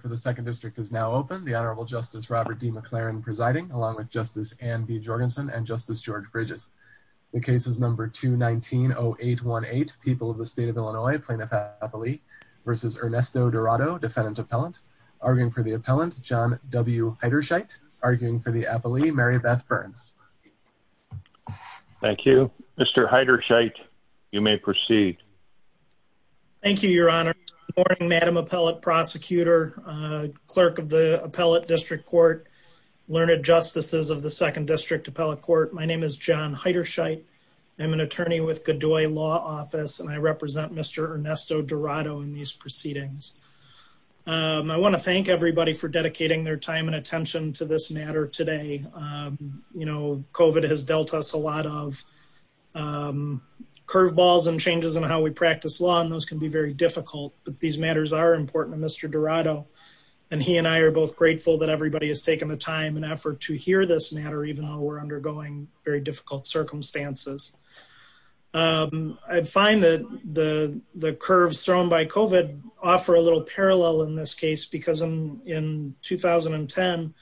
for the second district is now open. The Honorable Justice Robert D. McLaren presiding along with Justice and B. Jorgensen and Justice George Bridges. The case is number 219 0818 People of the State of Illinois. Plaintiff happily versus Ernesto Dorado, defendant appellant arguing for the appellant John W. Heider Scheidt, arguing for the appellee Mary Beth Burns. Thank you, Mr. Heider Scheidt. You may proceed. Thank you, Your Honor. Morning, Madam Appellate Prosecutor, Clerk of the Appellate District Court, Learned Justices of the Second District Appellate Court. My name is John Heider Scheidt. I'm an attorney with Godoy Law Office and I represent Mr. Ernesto Dorado in these proceedings. I want to thank everybody for dedicating their time and attention to this matter today. You know, COVID has dealt us a lot of curveballs and changes in how we practice law, and those can be very difficult. But these matters are important to Mr. Dorado, and he and I are both grateful that everybody has taken the time and effort to hear this matter, even though we're undergoing very difficult circumstances. I find that the curves thrown by COVID offer a little parallel in this case, because in 2010,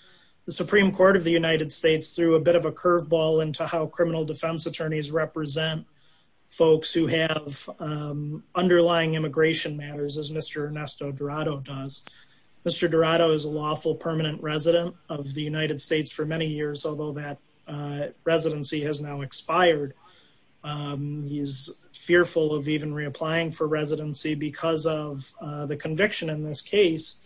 the Supreme Court of the United States threw a bit of a curveball into how criminal defense attorneys represent folks who have underlying immigration matters, as Mr. Ernesto Dorado does. Mr. Dorado is a lawful permanent resident of the United States for many years, although that residency has now expired. He's fearful of even reapplying for residency because of the conviction in this case,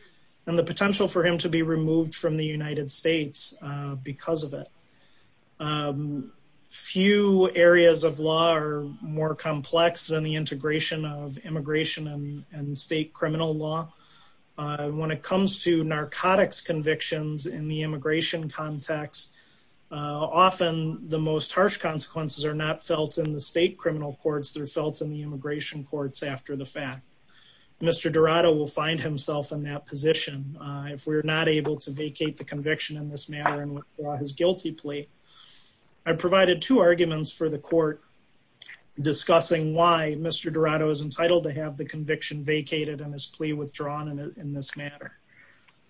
and the potential for him to be removed from the United States because of it. Few areas of law are more complex than the integration of immigration and state criminal law. When it comes to narcotics convictions in the immigration context, often the most harsh consequences are not felt in the state criminal courts, they're felt in the immigration courts after the fact. Mr. Dorado will find himself in that position if we're not able to vacate the conviction in this matter and withdraw his guilty plea. I provided two arguments for the court discussing why Mr. Dorado is entitled to have the conviction vacated and his plea withdrawn in this matter.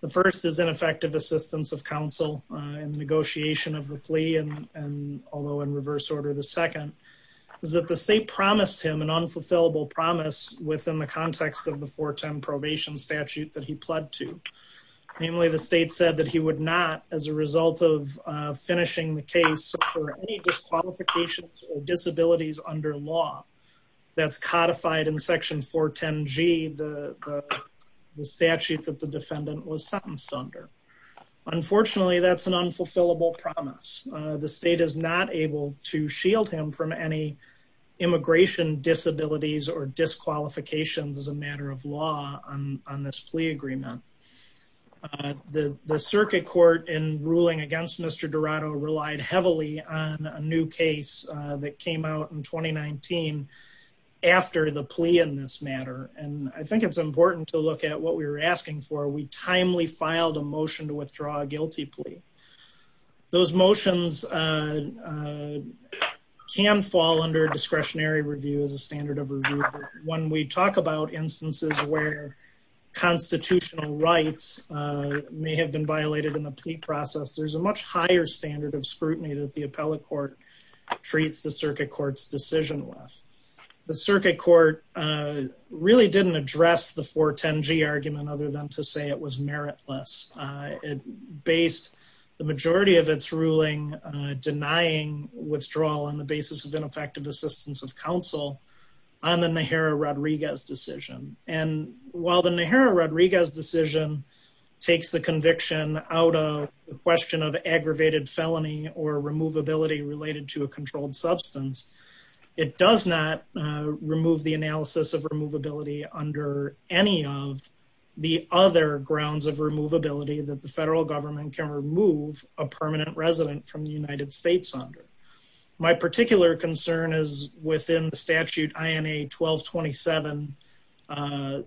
The first is ineffective assistance of counsel in negotiation of the plea, and although in reverse order, the second is that the state promised him an unfulfillable promise within the context of the 410 probation statute that he pled to. Namely, the state said that he would not, as a result of finishing the case, suffer any disqualifications or disabilities under law that's codified in section 410G, the statute that the defendant was sentenced under. Unfortunately, that's an unfulfillable promise. The state is not able to shield him from any immigration disabilities or disqualifications as a matter of law on this plea agreement. The circuit court in ruling against Mr. Dorado relied heavily on a new case that came out in 2019 after the plea in this matter, and I think it's important to look at what we were asking for. We timely filed a motion to withdraw a guilty plea. Those motions can fall under discretionary review as a standard of review. When we talk about instances where constitutional rights may have been violated in the plea process, there's a much higher standard of scrutiny that the appellate court treats the circuit court's decision with. The circuit court really didn't address the 410G argument other than to say it was meritless. It based the majority of its ruling denying withdrawal on the basis of ineffective assistance of counsel on the Najera-Rodriguez decision. While the Najera-Rodriguez decision takes the conviction out of the question of aggravated felony or removability related to a controlled substance, it does not remove the analysis of removability under any of the other grounds of removability that the federal government can remove a permanent resident from the United States under. My particular concern is within the statute INA 1227,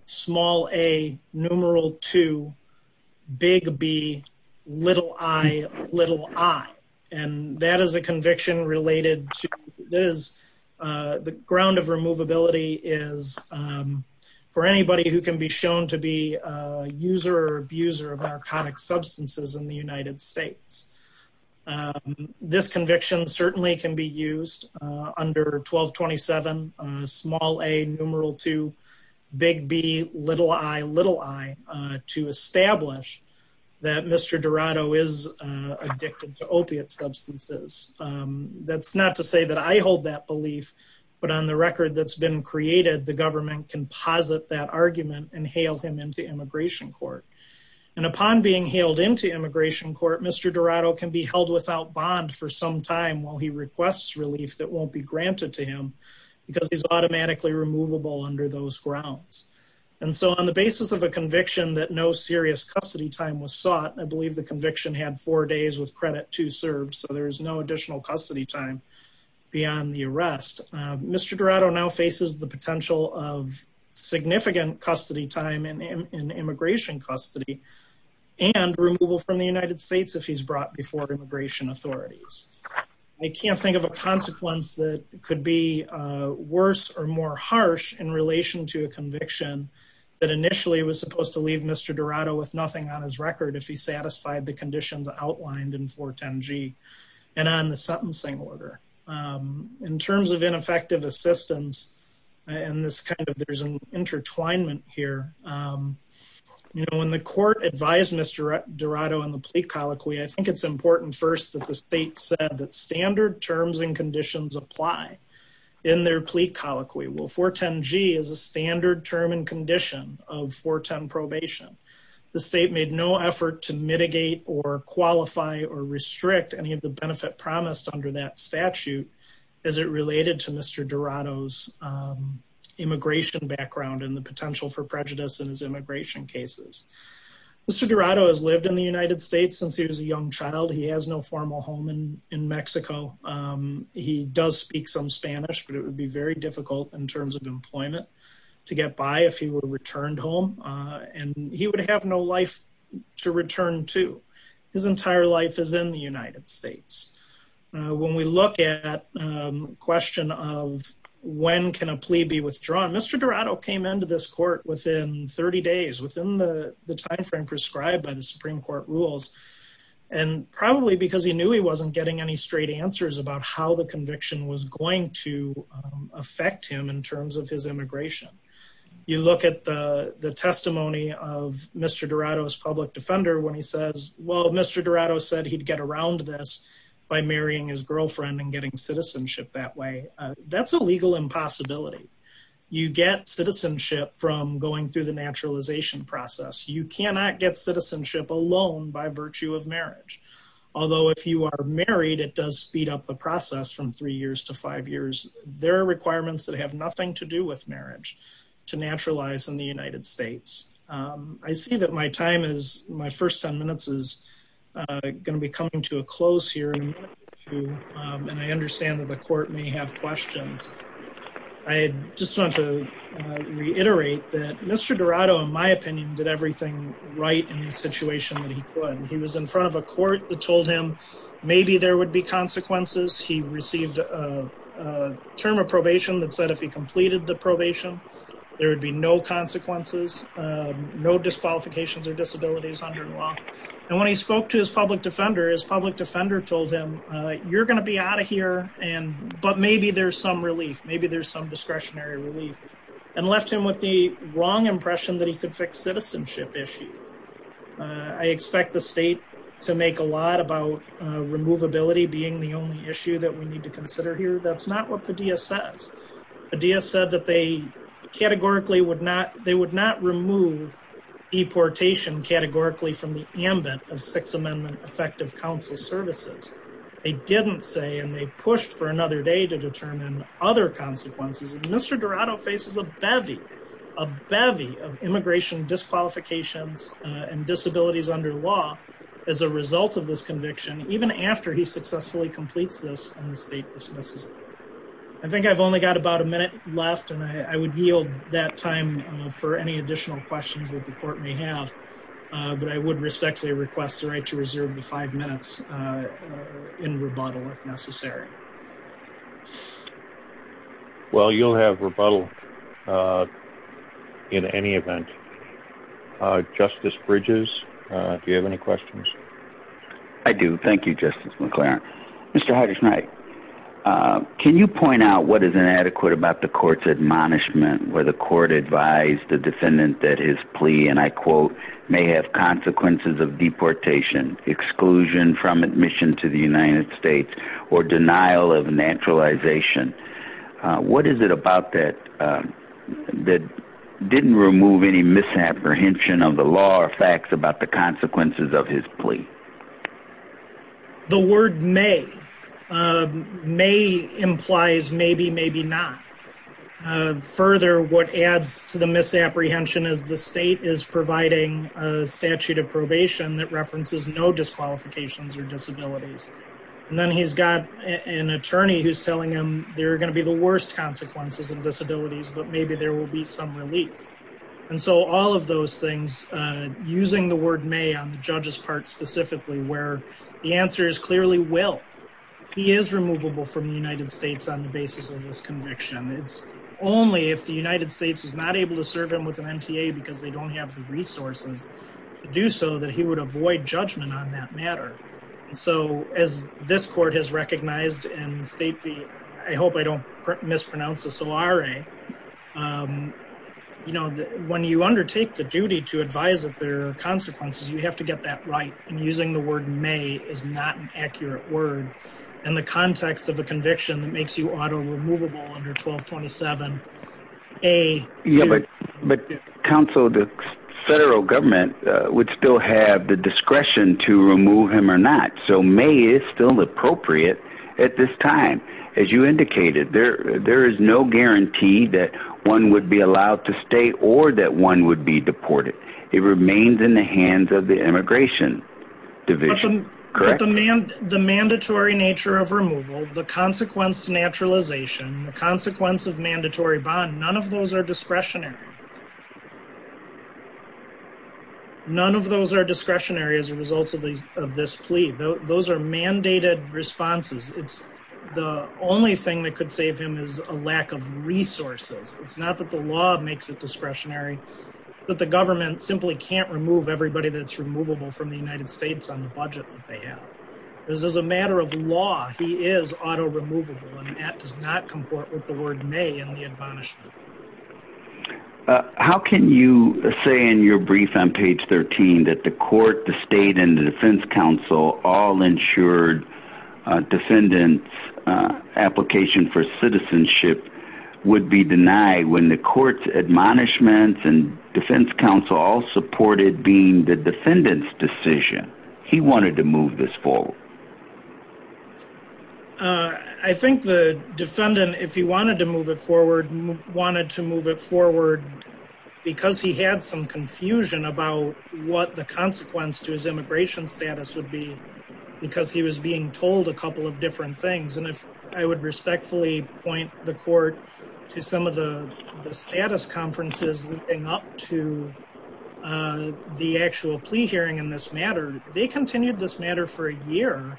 small A, numeral 2, big B, little I, little I, and that is a conviction related to this. The ground of removability is for anybody who can be shown to be a user or abuser of narcotic substances in the United States. This conviction certainly can be used under 1227, small A, numeral 2, big B, little I, little I, to establish that Mr. Dorado is addicted to opiate substances. That's not to say that I hold that belief, but on the record that's been created, the government can posit that argument and hail him into immigration court. And upon being hailed into immigration court, Mr. Dorado can be held without bond for some time while he requests relief that won't be granted to him because he's automatically removable under those grounds. And so on the basis of a conviction that no conviction had four days with credit to serve, so there is no additional custody time beyond the arrest. Mr. Dorado now faces the potential of significant custody time in immigration custody and removal from the United States if he's brought before immigration authorities. I can't think of a consequence that could be worse or more harsh in relation to a conviction that initially was supposed to leave Mr. Dorado with nothing on his record if he satisfied the conditions outlined in 410G and on the sentencing order. In terms of ineffective assistance and this kind of, there's an intertwinement here. You know, when the court advised Mr. Dorado on the plea colloquy, I think it's important first that the state said that standard terms and conditions apply in their plea colloquy. Well, 410G is a standard term and condition of 410 probation. The state made no effort to mitigate or qualify or restrict any of the benefit promised under that statute as it related to Mr. Dorado's immigration background and the potential for prejudice in his immigration cases. Mr. Dorado has lived in the United States since he was a young child. He has no formal home in Mexico. He does speak some employment to get by if he were returned home, and he would have no life to return to. His entire life is in the United States. When we look at the question of when can a plea be withdrawn, Mr. Dorado came into this court within 30 days, within the timeframe prescribed by the Supreme Court rules, and probably because he knew he wasn't getting any straight answers about how the conviction was going to affect him in terms of his immigration. You look at the testimony of Mr. Dorado's public defender when he says, well, Mr. Dorado said he'd get around this by marrying his girlfriend and getting citizenship that way. That's a legal impossibility. You get citizenship from going through the naturalization process. You cannot get citizenship alone by virtue of marriage. Although if you are married, it does speed up the process from three years to five years. There are requirements that have nothing to do with marriage to naturalize in the United States. I see that my time is my first 10 minutes is going to be coming to a close here. And I understand that the court may have questions. I just want to say that Mr. Dorado, in my opinion, did everything right in the situation that he could. He was in front of a court that told him maybe there would be consequences. He received a term of probation that said if he completed the probation, there would be no consequences, no disqualifications or disabilities under the law. And when he spoke to his public defender, his public defender told him, you're going to be out of here, but maybe there's some relief, maybe there's some discretionary relief and left him with the wrong impression that he could fix citizenship issues. I expect the state to make a lot about removability being the only issue that we need to consider here. That's not what Padilla says. Padilla said that they categorically would not, they would not remove deportation categorically from the ambit of Sixth Amendment effective council services. They didn't say, and they pushed for another day to determine other consequences. And Mr. Dorado faces a bevy, a bevy of immigration disqualifications and disabilities under law as a result of this conviction, even after he successfully completes this and the state dismisses it. I think I've only got about a minute left and I would yield that time for any additional questions that the court may have. But I would respectfully request the right to reserve the five minutes in rebuttal if necessary. Well, you'll have rebuttal in any event. Justice Bridges, do you have any questions? I do. Thank you, Justice McLaren. Mr. Hardish-Knight, can you point out what is inadequate about the court's admonishment where the court advised the defendant that his plea, and I quote, may have consequences of deportation, exclusion from admission to the United States, or denial of naturalization? What is it about that that didn't remove any misapprehension of the law or facts about the consequences of his plea? The word may. May implies maybe, maybe not. Further, what adds to the misapprehension is the state is providing a statute of probation that references no disqualifications or disabilities. And then he's got an attorney who's telling him there are going to be the worst consequences and disabilities, but maybe there will be some relief. And so all of those things, using the word may on the judge's part specifically, where the answer is clearly will. He is removable from the United States on the basis of this conviction. It's only if the United States is not able to serve him with an MTA because they don't have the resources to do so that he would avoid judgment on that matter. And so as this court has recognized and state the, I hope I don't mispronounce the solare, you know, when you undertake the duty to advise that there are consequences, you have to get that right. And using the word may is not an accurate word in the context of a conviction that makes you auto removable under 1227. But counsel, the federal government would still have the discretion to remove him or not. So may is still appropriate at this time. As you indicated there, there is no guarantee that one would be allowed to stay or that one would be deported. It remains in the hands of the immigration division, correct? The mandatory nature of removal, the consequence naturalization, the consequence of mandatory bond, none of those are discretionary. None of those are discretionary as a result of these, of this plea. Those are mandated responses. It's the only thing that could save him is a lack of resources. It's not that the law makes it discretionary, but the government simply can't remove everybody that's removable from the United States on the budget that they have. This is a matter of law. He is auto removable and that does not comport with the word may in the admonishment. Uh, how can you say in your brief on page 13 that the court, the state and the defense counsel all ensured a defendant's application for citizenship would be denied when the court's admonishments and defense counsel all supported being the defendant's decision. He wanted to move this forward. Uh, I think the defendant, if he wanted to move it forward, wanted to move it forward because he had some confusion about what the consequence to his immigration status would be, because he was being told a couple of different things. And if I would respectfully point the court to some of the status conferences and up to, uh, the actual plea hearing in this matter, they continued this matter for a year,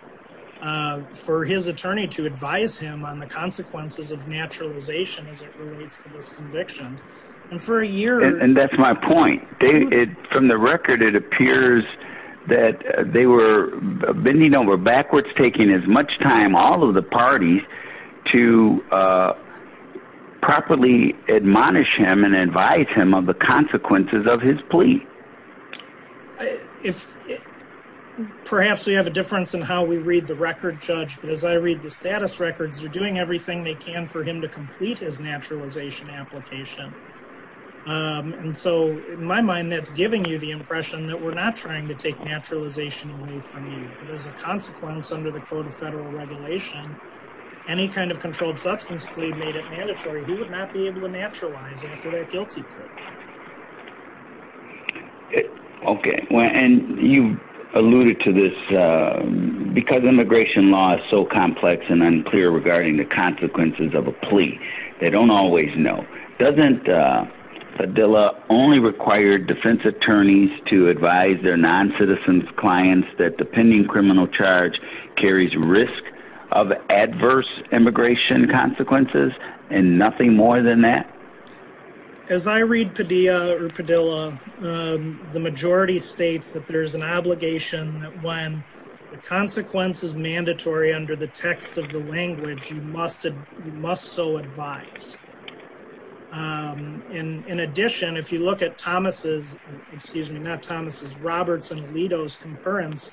uh, for his attorney to advise him on the consequences of naturalization as it relates to this conviction. And for a year, and that's my point, David, from the record, it appears that they were bending over backwards, taking as much time, all of the parties to, uh, properly admonish him and advise him of the consequences of his plea. I, if perhaps we have a difference in how we read the record judge, but as I read the status records, you're doing everything they can for him to complete his naturalization application. Um, and so in my mind, that's giving you the impression that we're not trying to take naturalization away from you, but as a consequence under the code of federal regulation, any kind of controlled substance plea made it mandatory. He would not be able to naturalize after that guilty offense. Okay. And you alluded to this, uh, because immigration law is so complex and unclear regarding the consequences of a plea. They don't always know. Doesn't, uh, Adila only required defense attorneys to advise their non-citizens clients that the pending criminal charge carries risk of adverse immigration consequences and nothing more than that. As I read Padilla or Padilla, um, the majority states that there's an obligation that when the consequence is mandatory under the text of the language, you must, you must so advise. Um, and in addition, if you look at Thomas's, excuse me, not Thomas's Roberts and Alito's concurrence,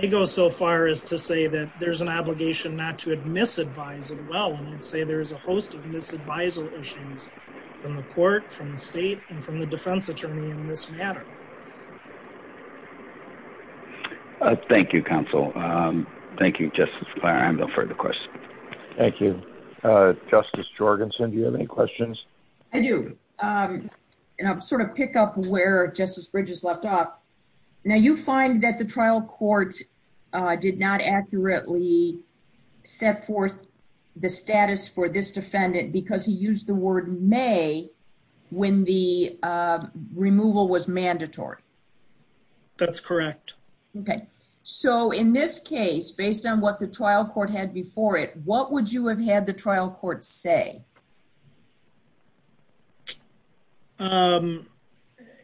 they go so far as to say that there's an obligation not to misadvise as well. And I'd say there's a host of misadvisal issues from the court, from the state and from the defense attorney in this matter. Uh, thank you. Counsel. Um, thank you, just as far. I have no further questions. Thank you. Uh, justice Jorgenson, do you have any questions? I do. Um, and I'm sort of pick up where justice bridges left off. Now you find that the trial court, uh, did not accurately set forth the status for this defendant because he used the word may when the, uh, removal was mandatory. That's correct. Okay. So in this case, based on what the trial court had before it, what would you have had the trial court say? Um,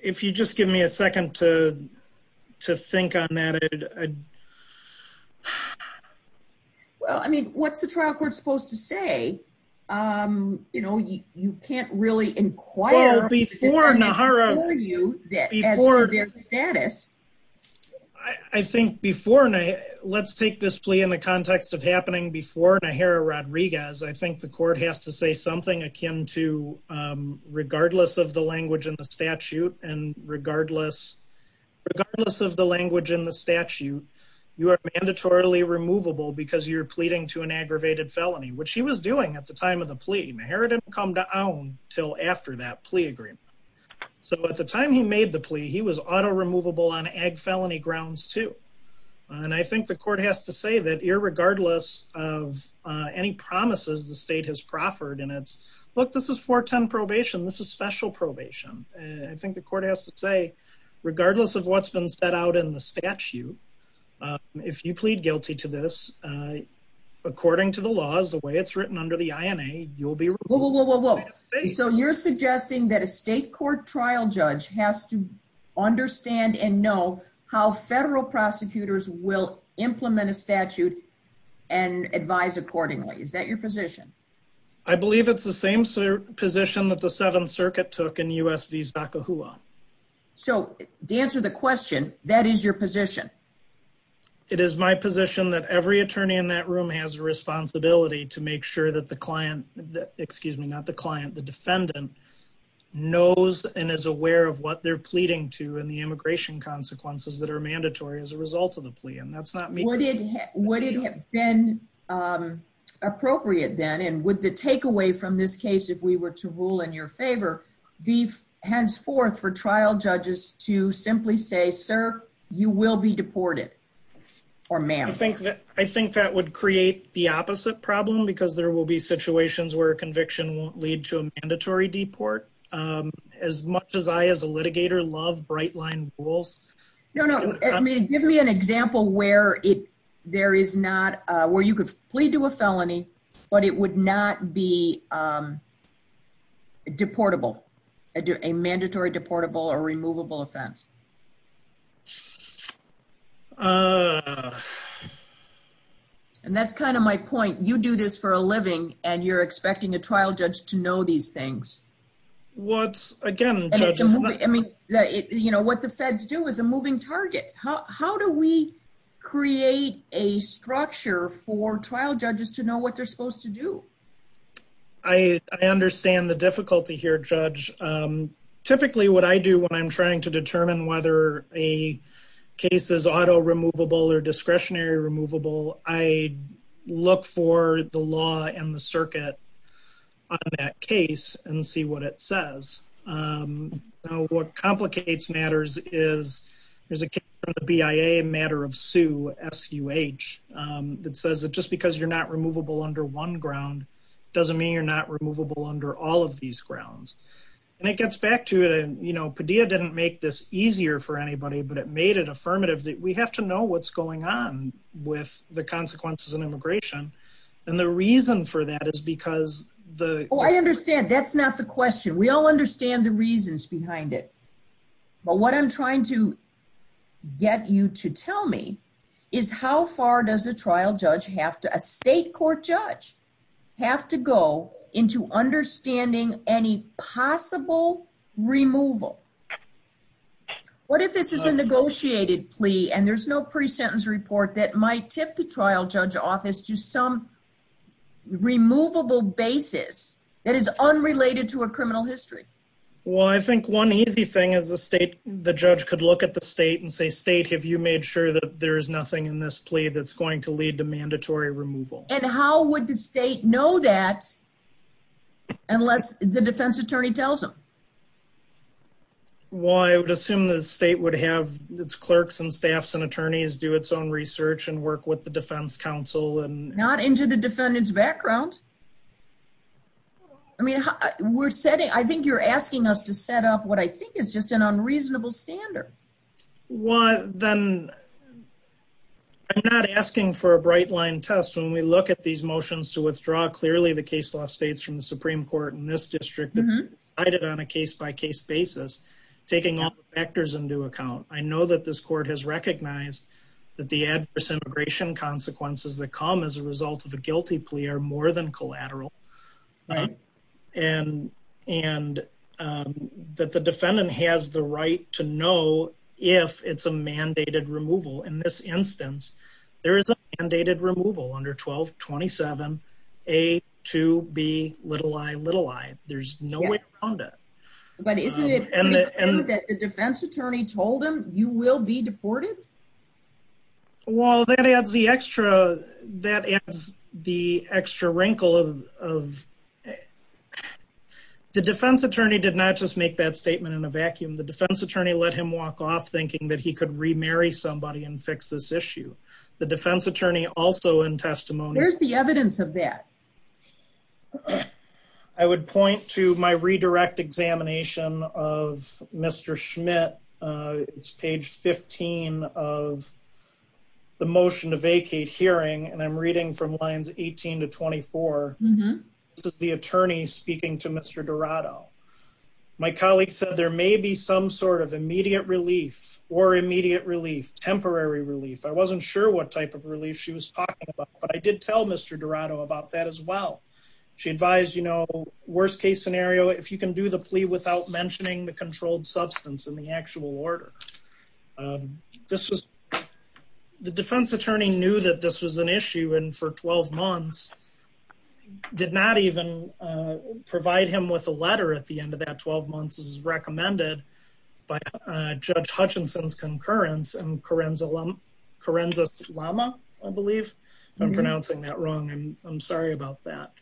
if you just give me a second to, to think on that. Well, I mean, what's the trial court supposed to say? Um, you know, you, you can't really inquire before Nahara you that before their status, I think before, and I let's take this plea in the context of happening before a hair Rodriguez, I think the court has to say something akin to, um, regardless of the language and the statute and regardless, regardless of the language in the statute, you are mandatorily removable because you're pleading to an aggravated felony, which he was doing at the time of the plea inheritance come to own till after that plea agreement. So at the time he made the plea, he was auto removable on egg felony grounds too. And I think the court has to say that irregardless of, uh, any promises the state has proffered and it's look, this is four 10 probation. This is special probation. And I think the court has to say, regardless of what's been set out in the statute, uh, if you plead guilty to this, uh, according to the laws, the way it's written under the INA, you'll be. So you're suggesting that a state court trial judge has to understand and know how federal prosecutors will implement a statute and advise accordingly. Is that your position? I believe it's the same position that the seventh circuit took in usv. So to answer the question, that is your position. It is my position that every attorney in that room has a responsibility to make sure that the client, excuse me, not the client, the defendant knows and is aware of what they're pleading to and the immigration consequences that are mandatory as a result of the plea. And that's not me. Would it, would it have been, um, appropriate then? And would the takeaway from this case, if we were to rule in your favor, beef henceforth for trial judges to simply say, sir, you will be deported or ma'am. I think that, I think that would create the opposite problem because there will be situations where conviction won't lead to a mandatory deport. Um, as much as I, as a litigator love bright line rules. No, no. I mean, give me an example where it, there is not a, where you could plead to a felony, but it would not be, um, deportable, a mandatory deportable or removable offense. Uh, and that's kind of my point. You do this for a living and you're expecting a trial judge to I mean, you know, what the feds do is a moving target. How, how do we create a structure for trial judges to know what they're supposed to do? I understand the difficulty here, judge. Um, typically what I do when I'm trying to determine whether a case is auto removable or discretionary I look for the law and the circuit on that case and see what it says. Um, now what complicates matters is there's a BIA matter of Sue SUH. Um, that says that just because you're not removable under one ground, doesn't mean you're not removable under all of these grounds. And it gets back to it. And, you know, Padilla didn't make this easier for anybody, but it made it affirmative that we have to know what's going on with the consequences and immigration. And the reason for that is because the, Oh, I understand. That's not the question. We all understand the reasons behind it, but what I'm trying to get you to tell me is how far does a trial judge have to a state court judge have to go into understanding any possible removal? What if this is a negotiated plea and there's no pre-sentence report that might tip the trial judge office to some removable basis that is unrelated to a criminal history? Well, I think one easy thing is the state, the judge could look at the state and say, state, have you made sure that there is nothing in this plea that's going to lead to mandatory removal? And how would the state know that unless the defense attorney tells them? Well, I would assume the state would have its clerks and staffs and attorneys do its own research and work with the defense council and not into the defendant's background. I mean, we're setting, I think you're asking us to set up what I think is just an unreasonable standard. Well, then I'm not asking for a bright line test. When we look at these motions to withdraw clearly the case law states from the Supreme Court in this district, cited on a case by case basis, taking all the factors into account. I know that this court has recognized that the adverse immigration consequences that come as a result of a guilty are more than collateral. And that the defendant has the right to know if it's a mandated removal. In this instance, there is a mandated removal under 1227 A2B ii. There's no way around it. But isn't it clear that the defense attorney told them you will be deported? Well, that adds the extra, that adds the extra wrinkle of, of the defense attorney did not just make that statement in a vacuum. The defense attorney let him walk off thinking that he could remarry somebody and fix this issue. The defense attorney also in testimony. Where's the evidence of that? I would point to my redirect examination of Mr. Schmidt. It's page 15 of the motion to vacate hearing. And I'm reading from lines 18 to 24. This is the attorney speaking to Mr. Dorado. My colleagues said there may be some sort of immediate relief or immediate relief, temporary relief. I wasn't sure what type of relief she was talking about, but I did tell Mr. Dorado about that as well. She advised, you know, worst case scenario, if you can do the plea without mentioning the controlled substance in the actual order, um, this was the defense attorney knew that this was an issue. And for 12 months did not even, uh, provide him with a letter at the end of that 12 months is recommended by, uh, judge Hutchinson's concurrence and Karen's alum, Karen's Islama, I believe I'm pronouncing that wrong. And I'm sorry about that.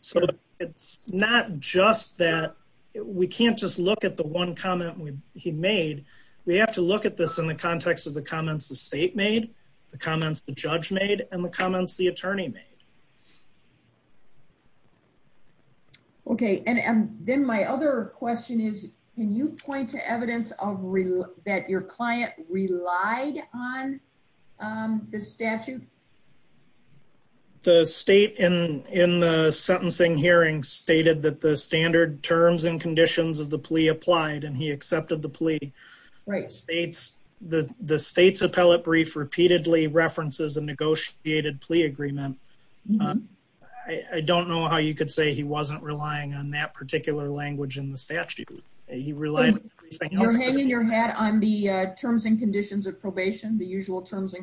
So it's not just that we can't just look at the one comment he made. We have to look at this in the context of the comments, the state made the comments, the judge made and the comments the attorney made. Okay. And then my other question is, can you point to evidence of real that your client relied on, um, the statute, the state in, in the sentencing hearing stated that the standard terms and conditions of probation, the usual terms and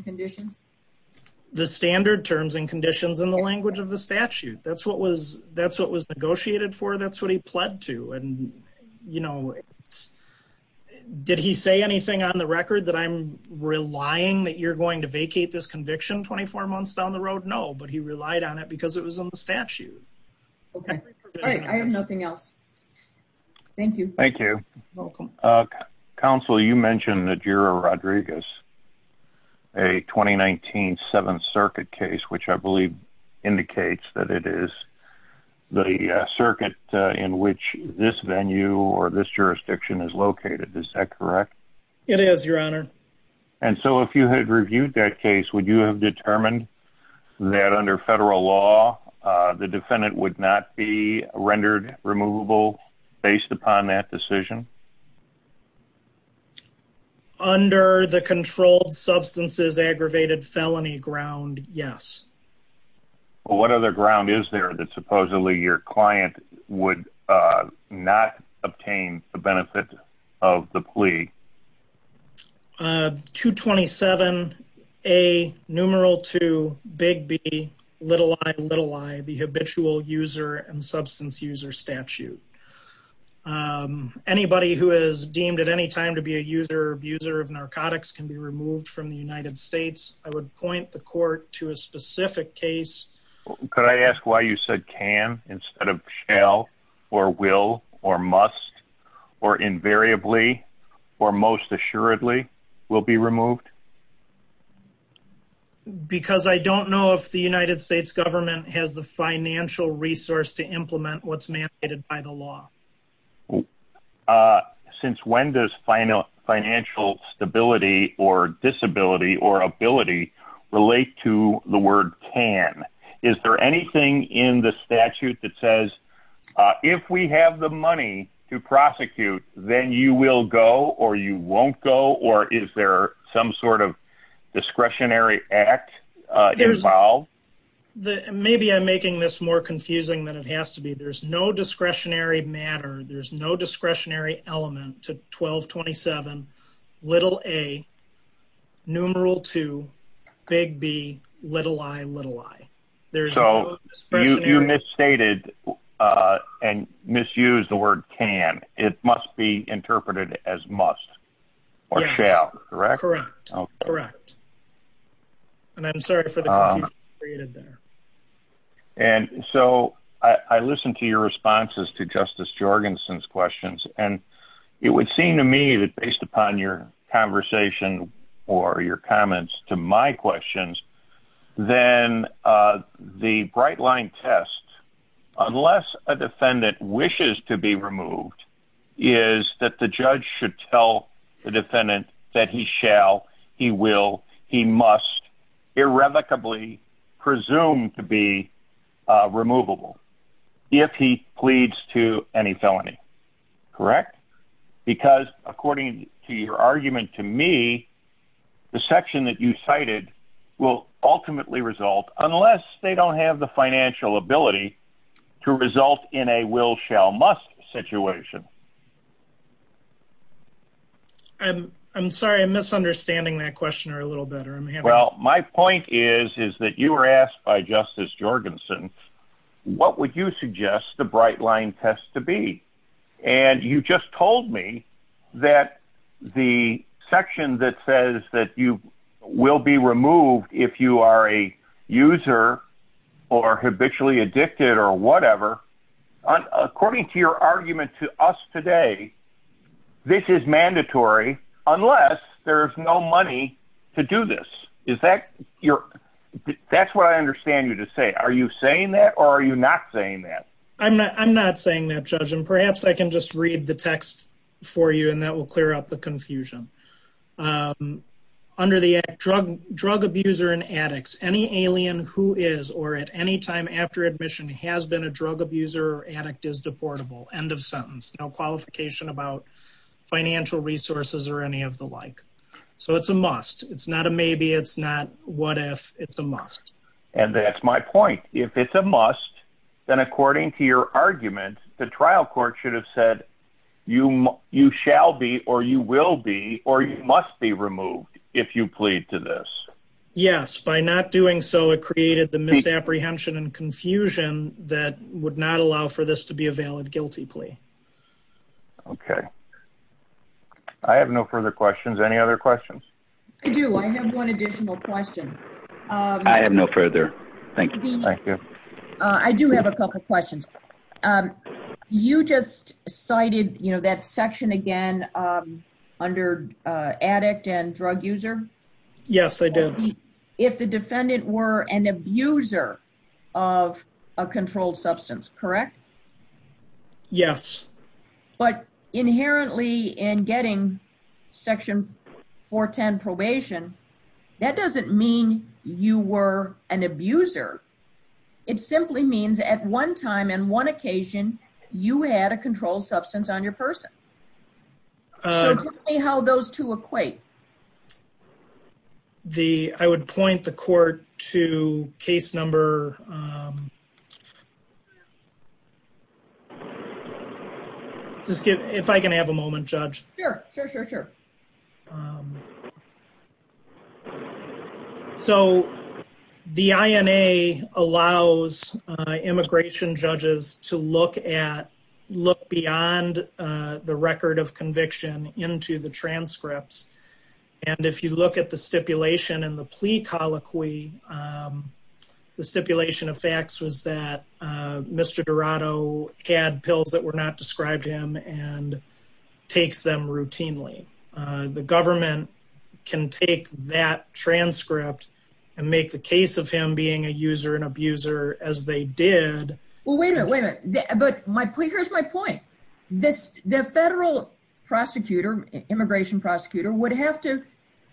conditions, the standard terms and conditions in the language of the statute. That's what was, that's what was negotiated for. That's what he pled to. And, you know, did he say anything on the record that I'm relying that you're going to vacate this conviction 24 months down the road? No, but he relied on it because it was on the statute. Okay. I have nothing else. Thank you. Thank you. Welcome. Uh, counsel, you mentioned that you're a Rodriguez, a 2019 seventh circuit case, which I believe indicates that it is the circuit in which this venue or this jurisdiction is located. Is that correct? It is your honor. And so if you had reviewed that case, would you have determined that under federal law, uh, the defendant would not be rendered removable based upon that decision under the controlled substances, aggravated felony ground? Yes. Well, what other ground is there that supposedly your client would, uh, not obtain the benefit of the plea? Uh, two 27, a numeral to big B little I little I the habitual user and substance user statute. Um, anybody who is deemed at any time to be a user abuser of narcotics can be removed from the United States. I would point the court to a specific case. Could I ask why you said can instead of shell or will or must or invariably or most assuredly will be removed? Because I don't know if the United States government has the financial resource to by the law. Uh, since when does final financial stability or disability or ability relate to the word can, is there anything in the statute that says, uh, if we have the money to prosecute, then you will go or you won't go? Or is there some sort of discretionary act? Uh, discretionary matter. There's no discretionary element to 12 27 little a numeral to big B little I little I. There's so you misstated, uh, and misuse the word can. It must be interpreted as must or shall. Correct? Correct. Correct. And I'm sorry for the created there. And so I listened to your responses to Justice Jorgensen's questions, and it would seem to me that based upon your conversation or your comments to my questions, then the bright line test, unless a defendant wishes to be removed, is that the judge should tell the defendant that he shall, he will, he must irrevocably presumed to be removable if he pleads to any felony. Correct. Because according to your argument to me, the section that you cited will ultimately result unless they don't have the financial ability to result in a will shall must situation. I'm I'm sorry. I'm misunderstanding that question or a little better. Well, my point is, is that you were asked by Justice Jorgensen. What would you suggest the bright line test to be? And you just told me that the section that says that you will be removed if you are a user or habitually addicted or whatever. According to your argument to us today, this is mandatory, unless there's no money to do this. Is that your? That's what I understand you to say. Are you saying that? Or are you not saying that? I'm not I'm not saying that, Judge. And perhaps I can just read the text for you. And that will clear up the confusion. Under the drug, drug abuser and addicts, any alien who is or at any time after admission has been a drug abuser, addict is deportable, end of sentence, no qualification about financial resources or any of the like. So it's a must. It's not a maybe it's not. What if it's a must? And that's my point. If it's a must, then according to your argument, the trial court should have said, you you shall be or you will be or you must be removed if you plead to this. Yes, by not doing so, it created the misapprehension and confusion that would not allow for this to be a valid guilty plea. OK. I have no further questions. Any other questions? I do. I have one additional question. I have no further. Thank you. Thank you. I do have a couple of questions. You just cited, you know, that section again under addict and drug user. Yes, I did. If the defendant were an abuser of a controlled substance, correct? Yes. But inherently in getting Section 410 probation, that doesn't mean you were an abuser. It simply means at one time and one occasion you had a controlled substance on your person. So tell me how those two equate. The I would point the court to case number. Just give if I can have a moment, Judge. Sure, sure, sure, sure. So the INA allows immigration judges to look at look beyond the record of conviction into the transcripts. And if you look at the stipulation in the plea colloquy, the stipulation of facts was that Mr. Dorado had pills that were not described him and takes them routinely. The government can take that transcript and make the case of him being a user and abuser as they did. Well, wait a minute. But my point, here's my point. This the federal prosecutor, immigration prosecutor would have to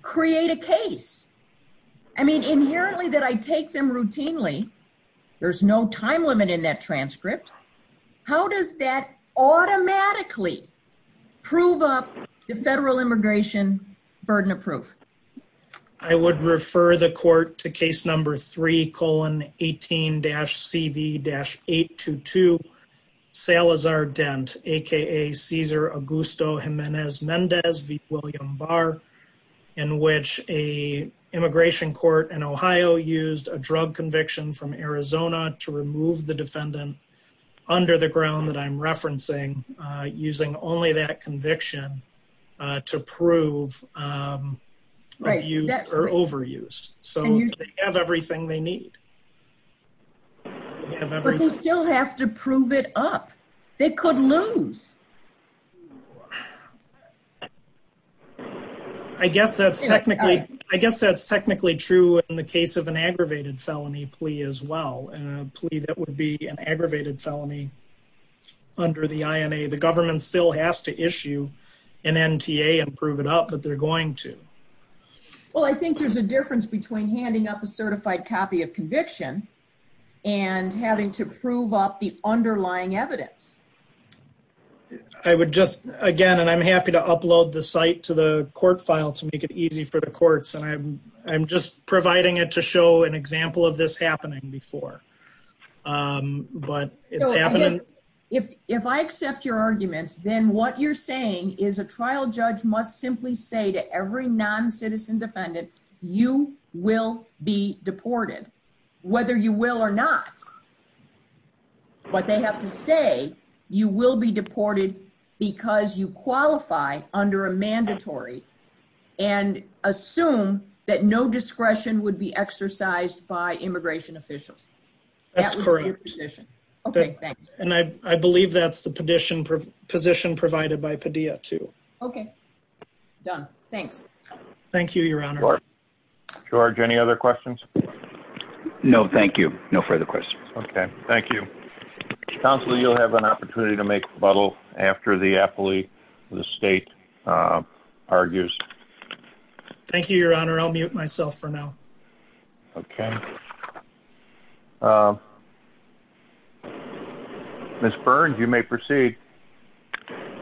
create a case. I mean, inherently that I take them routinely. There's no time limit in that transcript. How does that automatically prove up the federal immigration burden of proof? I would refer the court to case number 3 colon 18-cv-822 Salazar Dent, aka Cesar Augusto Jimenez Mendez v. William Barr, in which a immigration court in Ohio used a drug conviction from Arizona to remove the defendant under the ground that I'm referencing using only that conviction to prove overuse. So they have everything they need. But they still have to prove it up. They could lose. I guess that's technically, I guess that's technically true in the case of an aggravated felony plea as well, a plea that would be an aggravated felony under the INA. The government still has to issue an NTA and prove it up, but they're going to. Well, I think there's a difference between handing up a certified copy of conviction and having to prove up the underlying evidence. I would just again, and I'm happy to upload the site to the court file to make it easy for the courts, and I'm just providing it to show an example of this happening before. But it's happening. If I accept your arguments, then what you're saying is a trial judge must simply say to every non-citizen defendant, you will be deported, whether you will or not. But they have to say, you will be deported because you qualify under a mandatory and assume that no discretion would be exercised by immigration officials. That's correct. Okay, thanks. And I believe that's the position provided by Padilla too. Okay, done. Thanks. Thank you, Your Honor. George, any other questions? No, thank you. No further questions. Okay, thank you. Counselor, you'll have an opportunity to make rebuttal after the appellee of the state argues. Thank you, Your Honor. I'll mute myself for now. Okay. Ms. Burns, you may proceed.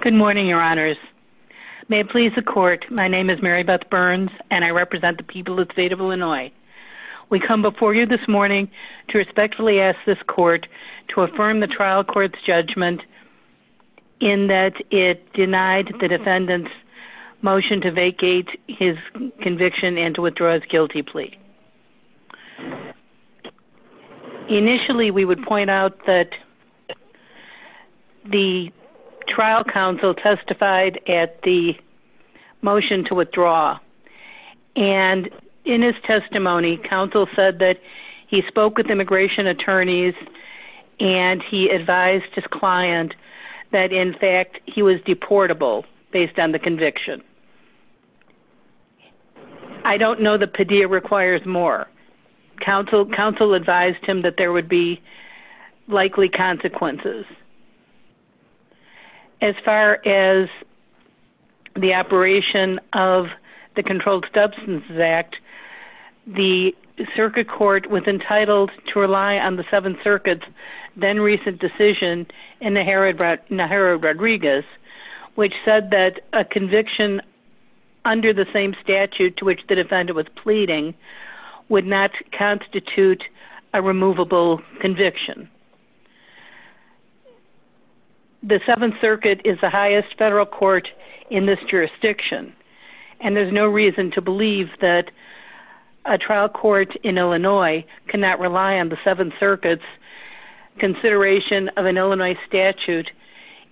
Good morning, Your Honors. May it please the court, my name is Mary Beth Burns, and I represent the people of the state of Illinois. We come before you this morning to respectfully ask this court to affirm the trial court's judgment in that it denied the defendant's motion to vacate his conviction and to withdraw his guilty plea. Initially, we would point out that the trial counsel testified at the motion to withdraw. And in his testimony, counsel said that he spoke with immigration attorneys, and he advised his client that in fact, he was deportable based on the conviction. I don't know that Padilla requires more. Counsel advised him that there would be likely consequences. As far as the operation of the Controlled Substances Act, the circuit court was entitled to rely on the Seventh Circuit's then recent decision in Najera Rodriguez, which said that a conviction under the same statute to which the defendant was pleading would not constitute a removable conviction. The Seventh Circuit is the highest federal court in this jurisdiction. And there's no reason to believe that a trial court in Illinois cannot rely on the Seventh Circuit's consideration of an Illinois statute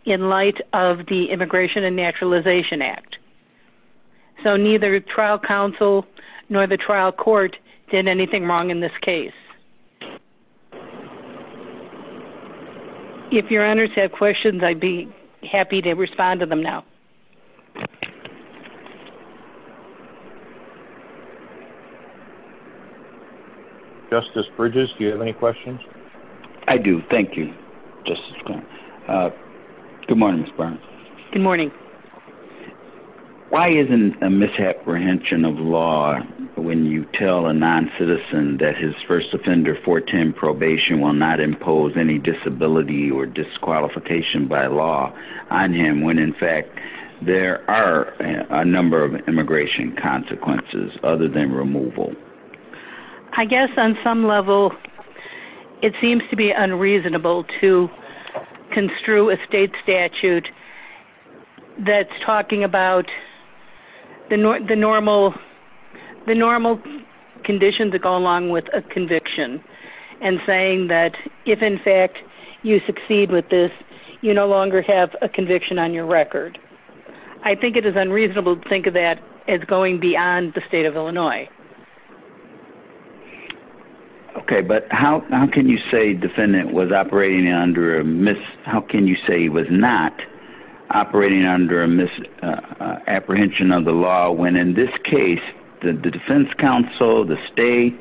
in light of the Immigration and Naturalization Act. So neither trial counsel nor the trial court did anything wrong in this case. If your honors have questions, I'd be happy to respond to them now. Thank you. Justice Bridges, do you have any questions? I do. Thank you. Good morning, Ms. Burns. Good morning. Why isn't a misapprehension of law when you tell a non-citizen that his first offender 410 probation will not impose any disability or disqualification by law on him when in fact, there are a number of immigration consequences other than removal? I guess on some level, it seems to be unreasonable to construe a state statute that's talking about the normal conditions that go along with a conviction, and saying that if in fact, you succeed with this, you no longer have a conviction on your record. I think it is unreasonable to think of that as going beyond the state of Illinois. Okay, but how can you say the defendant was operating under a mis... How can you say he was not operating under a misapprehension of the law when in this case, the defense counsel, the state,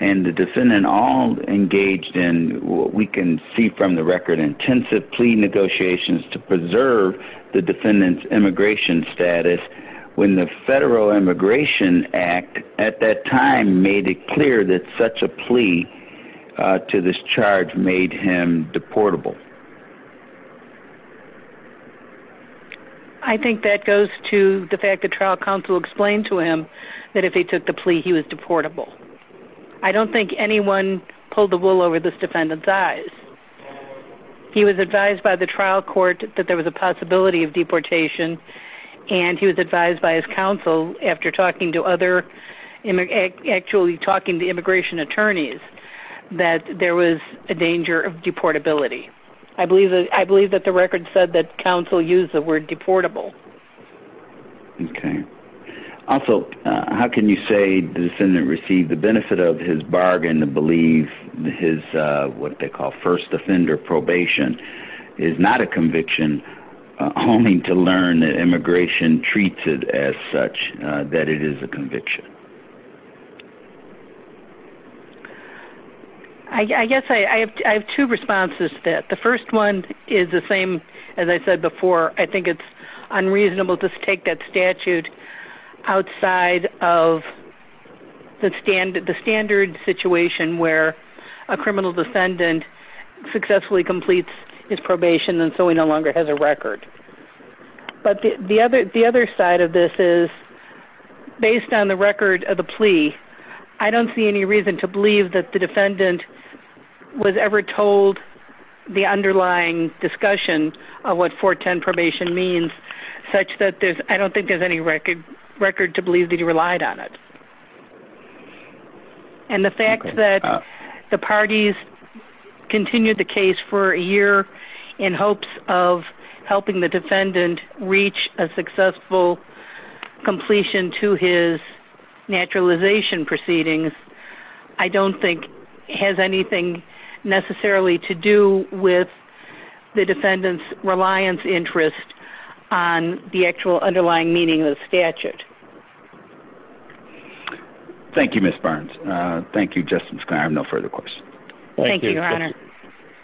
and the defendant all engaged in what we can see from the record, intensive plea negotiations to preserve the defendant's immigration status, when the Federal Immigration Act at that time made it clear that such a plea to this charge made him deportable? I think that goes to the fact that trial counsel explained to him that if he took the plea, he was deportable. I don't think anyone pulled the wool over this defendant's eyes. He was advised by the trial court that there was a possibility of deportation, and he was advised by his counsel after talking to other, actually talking to immigration attorneys, that there was a danger of deportability. I believe that the record said that counsel used the word deportable. Okay. Also, how can you say the defendant received the benefit of his bargain to believe his what they call first offender probation is not a conviction, only to learn that immigration treats it as such, that it is a conviction? I guess I have two responses to that. The first one is the same, as I said before. I think it's unreasonable to take that statute outside of the standard situation where a criminal defendant successfully completes his probation, and so he no longer has a record. But the other side of this is, based on the record of the defendant, of the plea, I don't see any reason to believe that the defendant was ever told the underlying discussion of what 410 probation means, such that there's, I don't think there's any record to believe that he relied on it. And the fact that the parties continued the case for a year in hopes of helping the defendant reach a successful completion to his naturalization proceedings, I don't think has anything necessarily to do with the defendant's reliance interest on the actual underlying meaning of the statute. Thank you, Ms. Barnes. Thank you, Justice. I have no further questions. Thank you, Your Honor.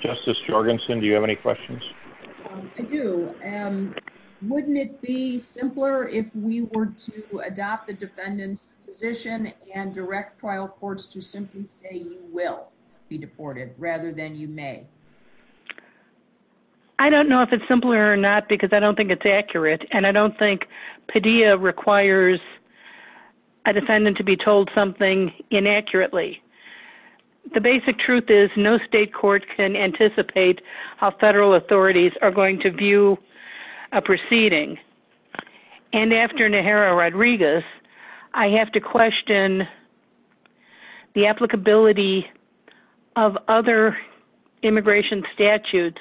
Justice Jorgensen, do you have any questions? I do. Wouldn't it be simpler if we were to adopt the defendant's position and direct trial courts to simply say you will be deported, rather than you may? I don't know if it's simpler or not, because I don't think it's accurate, and I don't think truth is no state court can anticipate how federal authorities are going to view a proceeding. And after Najera Rodriguez, I have to question the applicability of other immigration statutes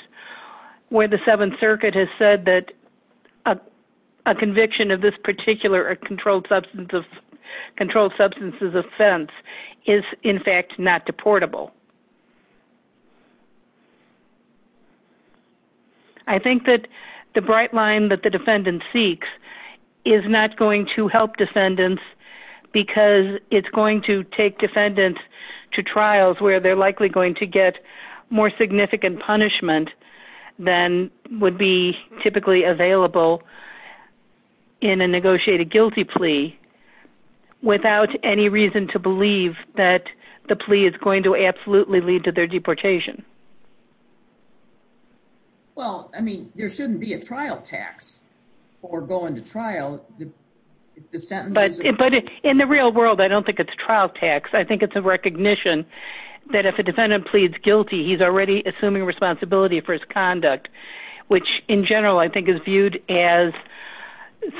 where the Seventh Circuit has said that a conviction of this particular controlled substance's offense is, in fact, not deportable. I think that the bright line that the defendant seeks is not going to help defendants because it's going to take defendants to trials where they're likely going to get more significant punishment than would be typically available in a negotiated guilty plea without any reason to believe that the plea is going to absolutely lead to their deportation. Well, I mean, there shouldn't be a trial tax for going to trial. But in the real world, I don't think it's trial tax. I think it's a recognition that if a defendant pleads guilty, he's already assuming responsibility for his conduct, which, in general, I think is viewed as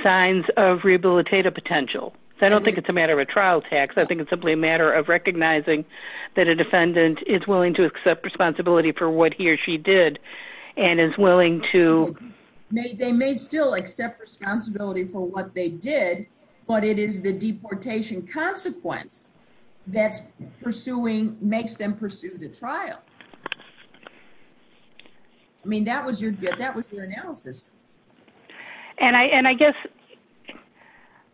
signs of rehabilitative potential. I don't think it's a matter of a trial tax. I think it's simply a matter of recognizing that a defendant is willing to accept responsibility for what he or she did and is willing to... They may still accept responsibility for what they did, but it is the deportation consequence that makes them pursue the trial. I mean, that was your analysis. And I guess,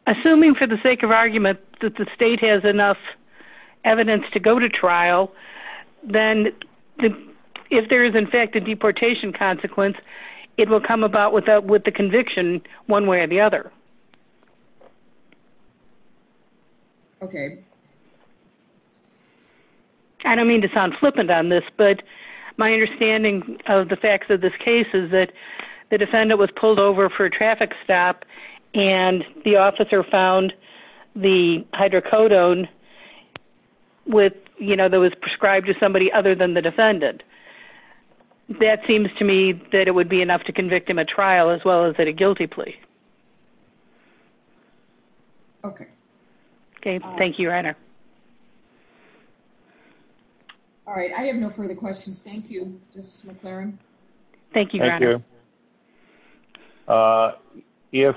assuming for the sake of argument that the state has enough evidence to go to trial, then if there is, in fact, a deportation consequence, it will come about with the conviction one way or the other. Okay. I don't mean to sound flippant on this, but my understanding of the facts of this case is that the defendant was pulled over for a traffic stop and the officer found the hydrocodone with... That was prescribed to somebody other than the defendant. That seems to me that it would be enough to convict him at trial as well as at a guilty plea. Okay. Okay. Thank you, Reiner. All right. I have no further questions. Thank you, Justice McClaren. Thank you, Reiner. If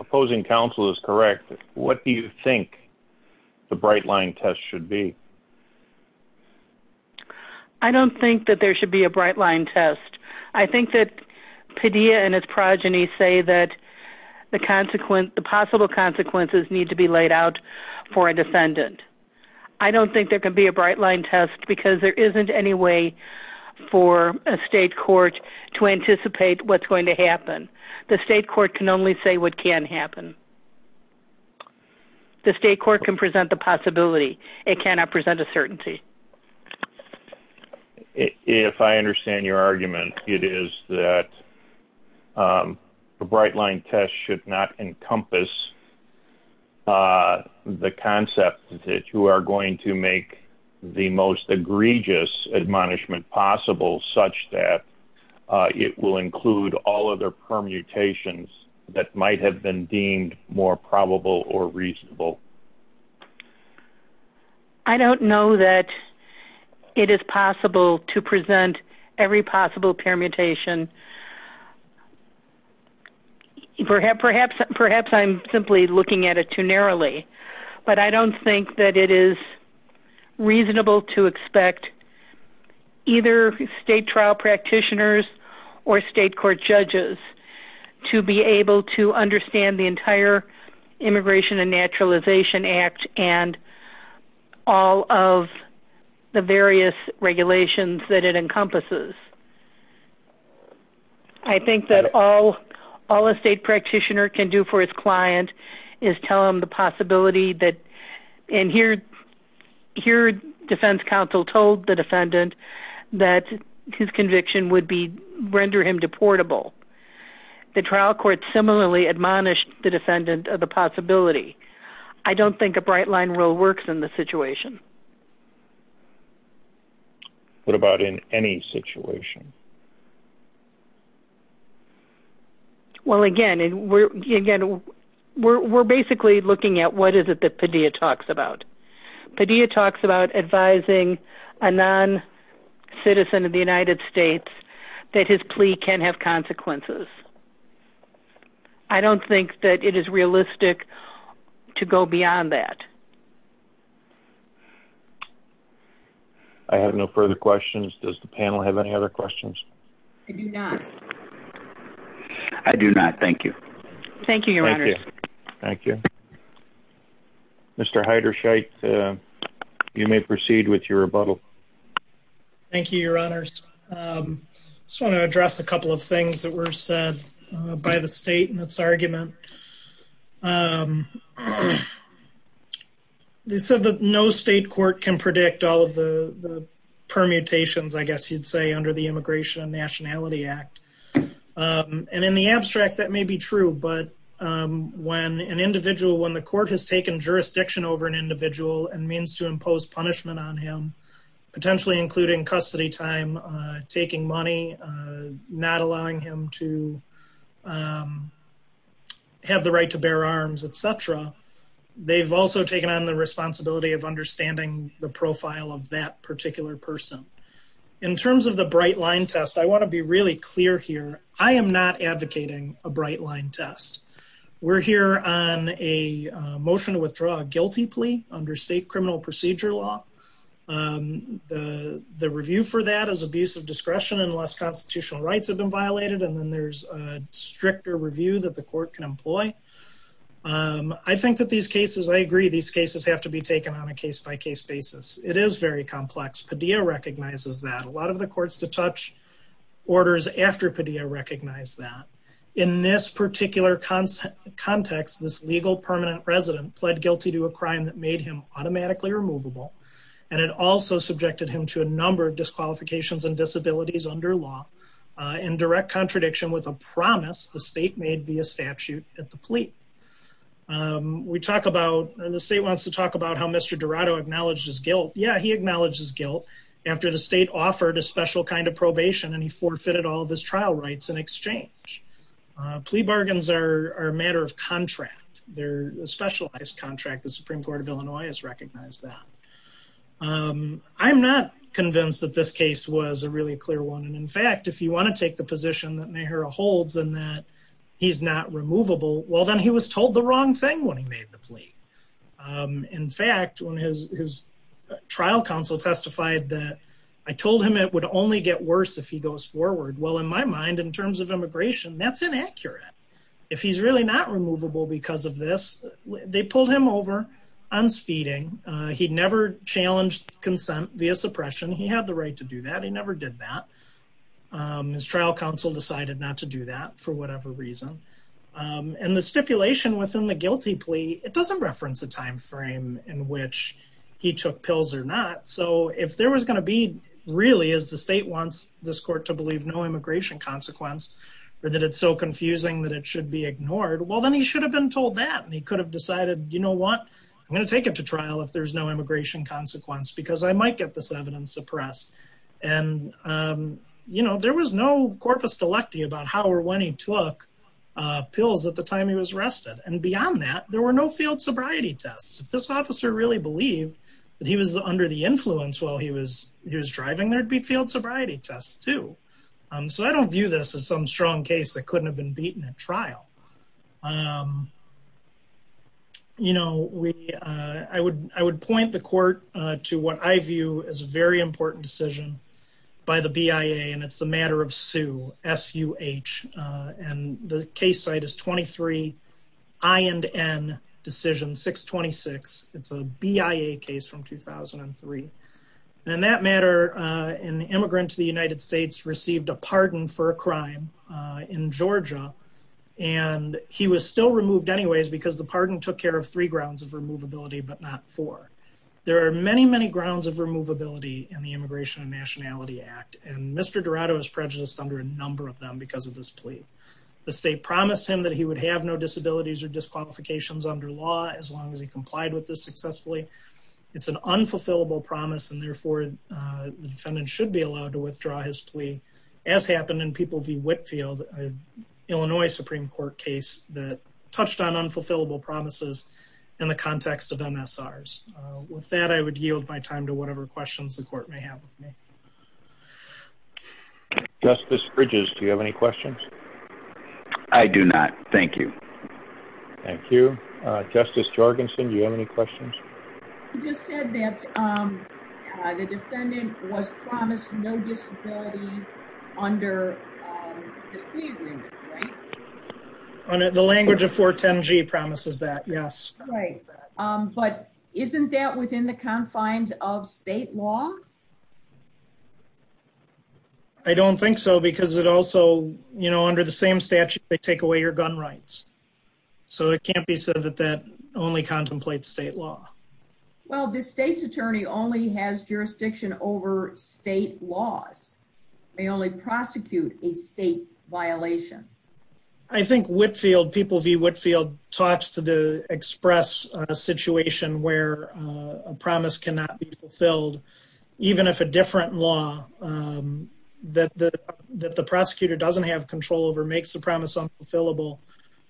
opposing counsel is correct, what do you think the bright line test should be? I don't think that there should be a bright line test. I think that Padilla and his progeny say the possible consequences need to be laid out for a defendant. I don't think there can be a bright line test because there isn't any way for a state court to anticipate what's going to happen. The state court can only say what can happen. The state court can present the possibility. It cannot present a certainty. Okay. If I understand your argument, it is that the bright line test should not encompass the concept that you are going to make the most egregious admonishment possible such that it will include all other permutations that might have been deemed more probable or reasonable. I don't know that it is possible to present every possible permutation. Perhaps I'm simply looking at it too narrowly, but I don't think that it is reasonable to expect either state trial practitioners or state court judges to be able to understand the entire Immigration and Naturalization Act and all of the various regulations that it encompasses. I think that all a state practitioner can do for his client is tell him the possibility. Here, defense counsel told the defendant that his conviction would render him deportable. The trial court similarly admonished the defendant of the possibility. I don't think a bright line rule works in this situation. What about in any situation? Well, again, we're basically looking at what is it that Padilla talks about. Padilla talks about a non-citizen of the United States that his plea can have consequences. I don't think that it is realistic to go beyond that. I have no further questions. Does the panel have any other questions? I do not. I do not. Thank you. Thank you, your honor. Thank you. Mr. Heiderscheidt, you may proceed with your rebuttal. Thank you, your honors. I just want to address a couple of things that were said by the state in its argument. They said that no state court can predict all of the permutations, I guess you'd say, under the Immigration and Nationality Act. And in the abstract, that may be true, but when an individual, when the court has taken jurisdiction over an individual and means to impose punishment on him, potentially including custody time, taking money, not allowing him to have the right to bear arms, etc., they've also taken on the responsibility of understanding the profile of that particular person. In terms of the bright line test, I want to be really clear here. I am not advocating a bright line test. We're here on a motion to withdraw a guilty plea under state criminal procedure law. The review for that is abuse of discretion unless constitutional rights have been violated, and then there's a stricter review that the court can employ. I think that these cases, I agree, these cases have to be taken on a case-by-case basis. It is very complex. Padilla recognizes that. A lot of the courts-to-touch orders after Padilla recognize that. In this particular context, this legal permanent resident pled guilty to a crime that made him automatically removable, and it also subjected him to a number of disqualifications and disabilities under law in direct contradiction with a promise the state made via statute at the plea. We talk about, and the state wants to talk how Mr. Dorado acknowledged his guilt. Yeah, he acknowledged his guilt after the state offered a special kind of probation, and he forfeited all of his trial rights in exchange. Plea bargains are a matter of contract. They're a specialized contract. The Supreme Court of Illinois has recognized that. I'm not convinced that this case was a really clear one, and in fact, if you want to take the position that Mehra holds and that he's not removable, well, then he was when his trial counsel testified that I told him it would only get worse if he goes forward. Well, in my mind, in terms of immigration, that's inaccurate. If he's really not removable because of this, they pulled him over on speeding. He'd never challenged consent via suppression. He had the right to do that. He never did that. His trial counsel decided not to do that for whatever reason, and the stipulation within the guilty plea, it doesn't reference a time frame in which he took pills or not, so if there was going to be really, as the state wants this court to believe, no immigration consequence or that it's so confusing that it should be ignored, well, then he should have been told that, and he could have decided, you know what? I'm going to take it to trial if there's no immigration consequence because I might get this evidence suppressed, and there was no about how or when he took pills at the time he was arrested, and beyond that, there were no field sobriety tests. If this officer really believed that he was under the influence while he was driving, there'd be field sobriety tests, too, so I don't view this as some strong case that couldn't have been beaten at trial. You know, I would point the court to what I view as a very SUH, and the case site is 23 I and N decision 626. It's a BIA case from 2003, and in that matter, an immigrant to the United States received a pardon for a crime in Georgia, and he was still removed anyways because the pardon took care of three grounds of removability but not four. There are many, many grounds of removability in the Immigration and Nationality Act, and Mr. Dorado is prejudiced under a number of them because of this plea. The state promised him that he would have no disabilities or disqualifications under law as long as he complied with this successfully. It's an unfulfillable promise, and therefore the defendant should be allowed to withdraw his plea, as happened in People v. Whitfield, an Illinois Supreme Court case that touched on unfulfillable promises in the context of MSRs. With that, I would yield my time. Justice Bridges, do you have any questions? I do not. Thank you. Thank you. Justice Jorgensen, do you have any questions? You just said that the defendant was promised no disability under this plea agreement, right? The language of 410G promises that, yes. Right. But isn't that within the confines of state law? I don't think so because it also, you know, under the same statute, they take away your gun rights. So it can't be said that that only contemplates state law. Well, the state's attorney only has jurisdiction over state laws. They only prosecute a state violation. I think Whitfield, People v. Whitfield, talks to the express a situation where a promise cannot be fulfilled, even if a different law that the prosecutor doesn't have control over makes the promise unfulfillable.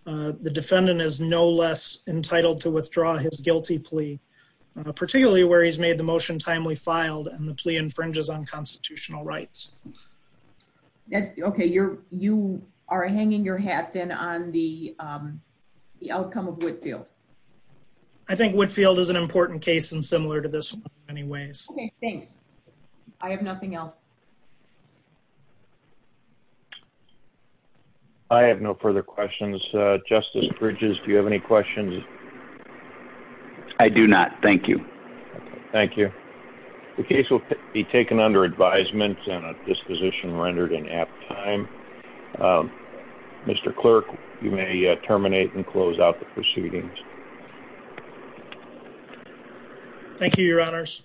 The defendant is no less entitled to withdraw his guilty plea, particularly where he's made the motion timely filed and the plea infringes on constitutional rights. Okay, you are hanging your hat then on the outcome of Whitfield. I think Whitfield is an important case and similar to this one in many ways. Okay, thanks. I have nothing else. I have no further questions. Justice Bridges, do you have any questions? I do not. Thank you. Thank you. The case will be taken under advisement and at this position rendered in apt time. Mr. Clerk, you may terminate and close out the proceedings. Thank you, Your Honors.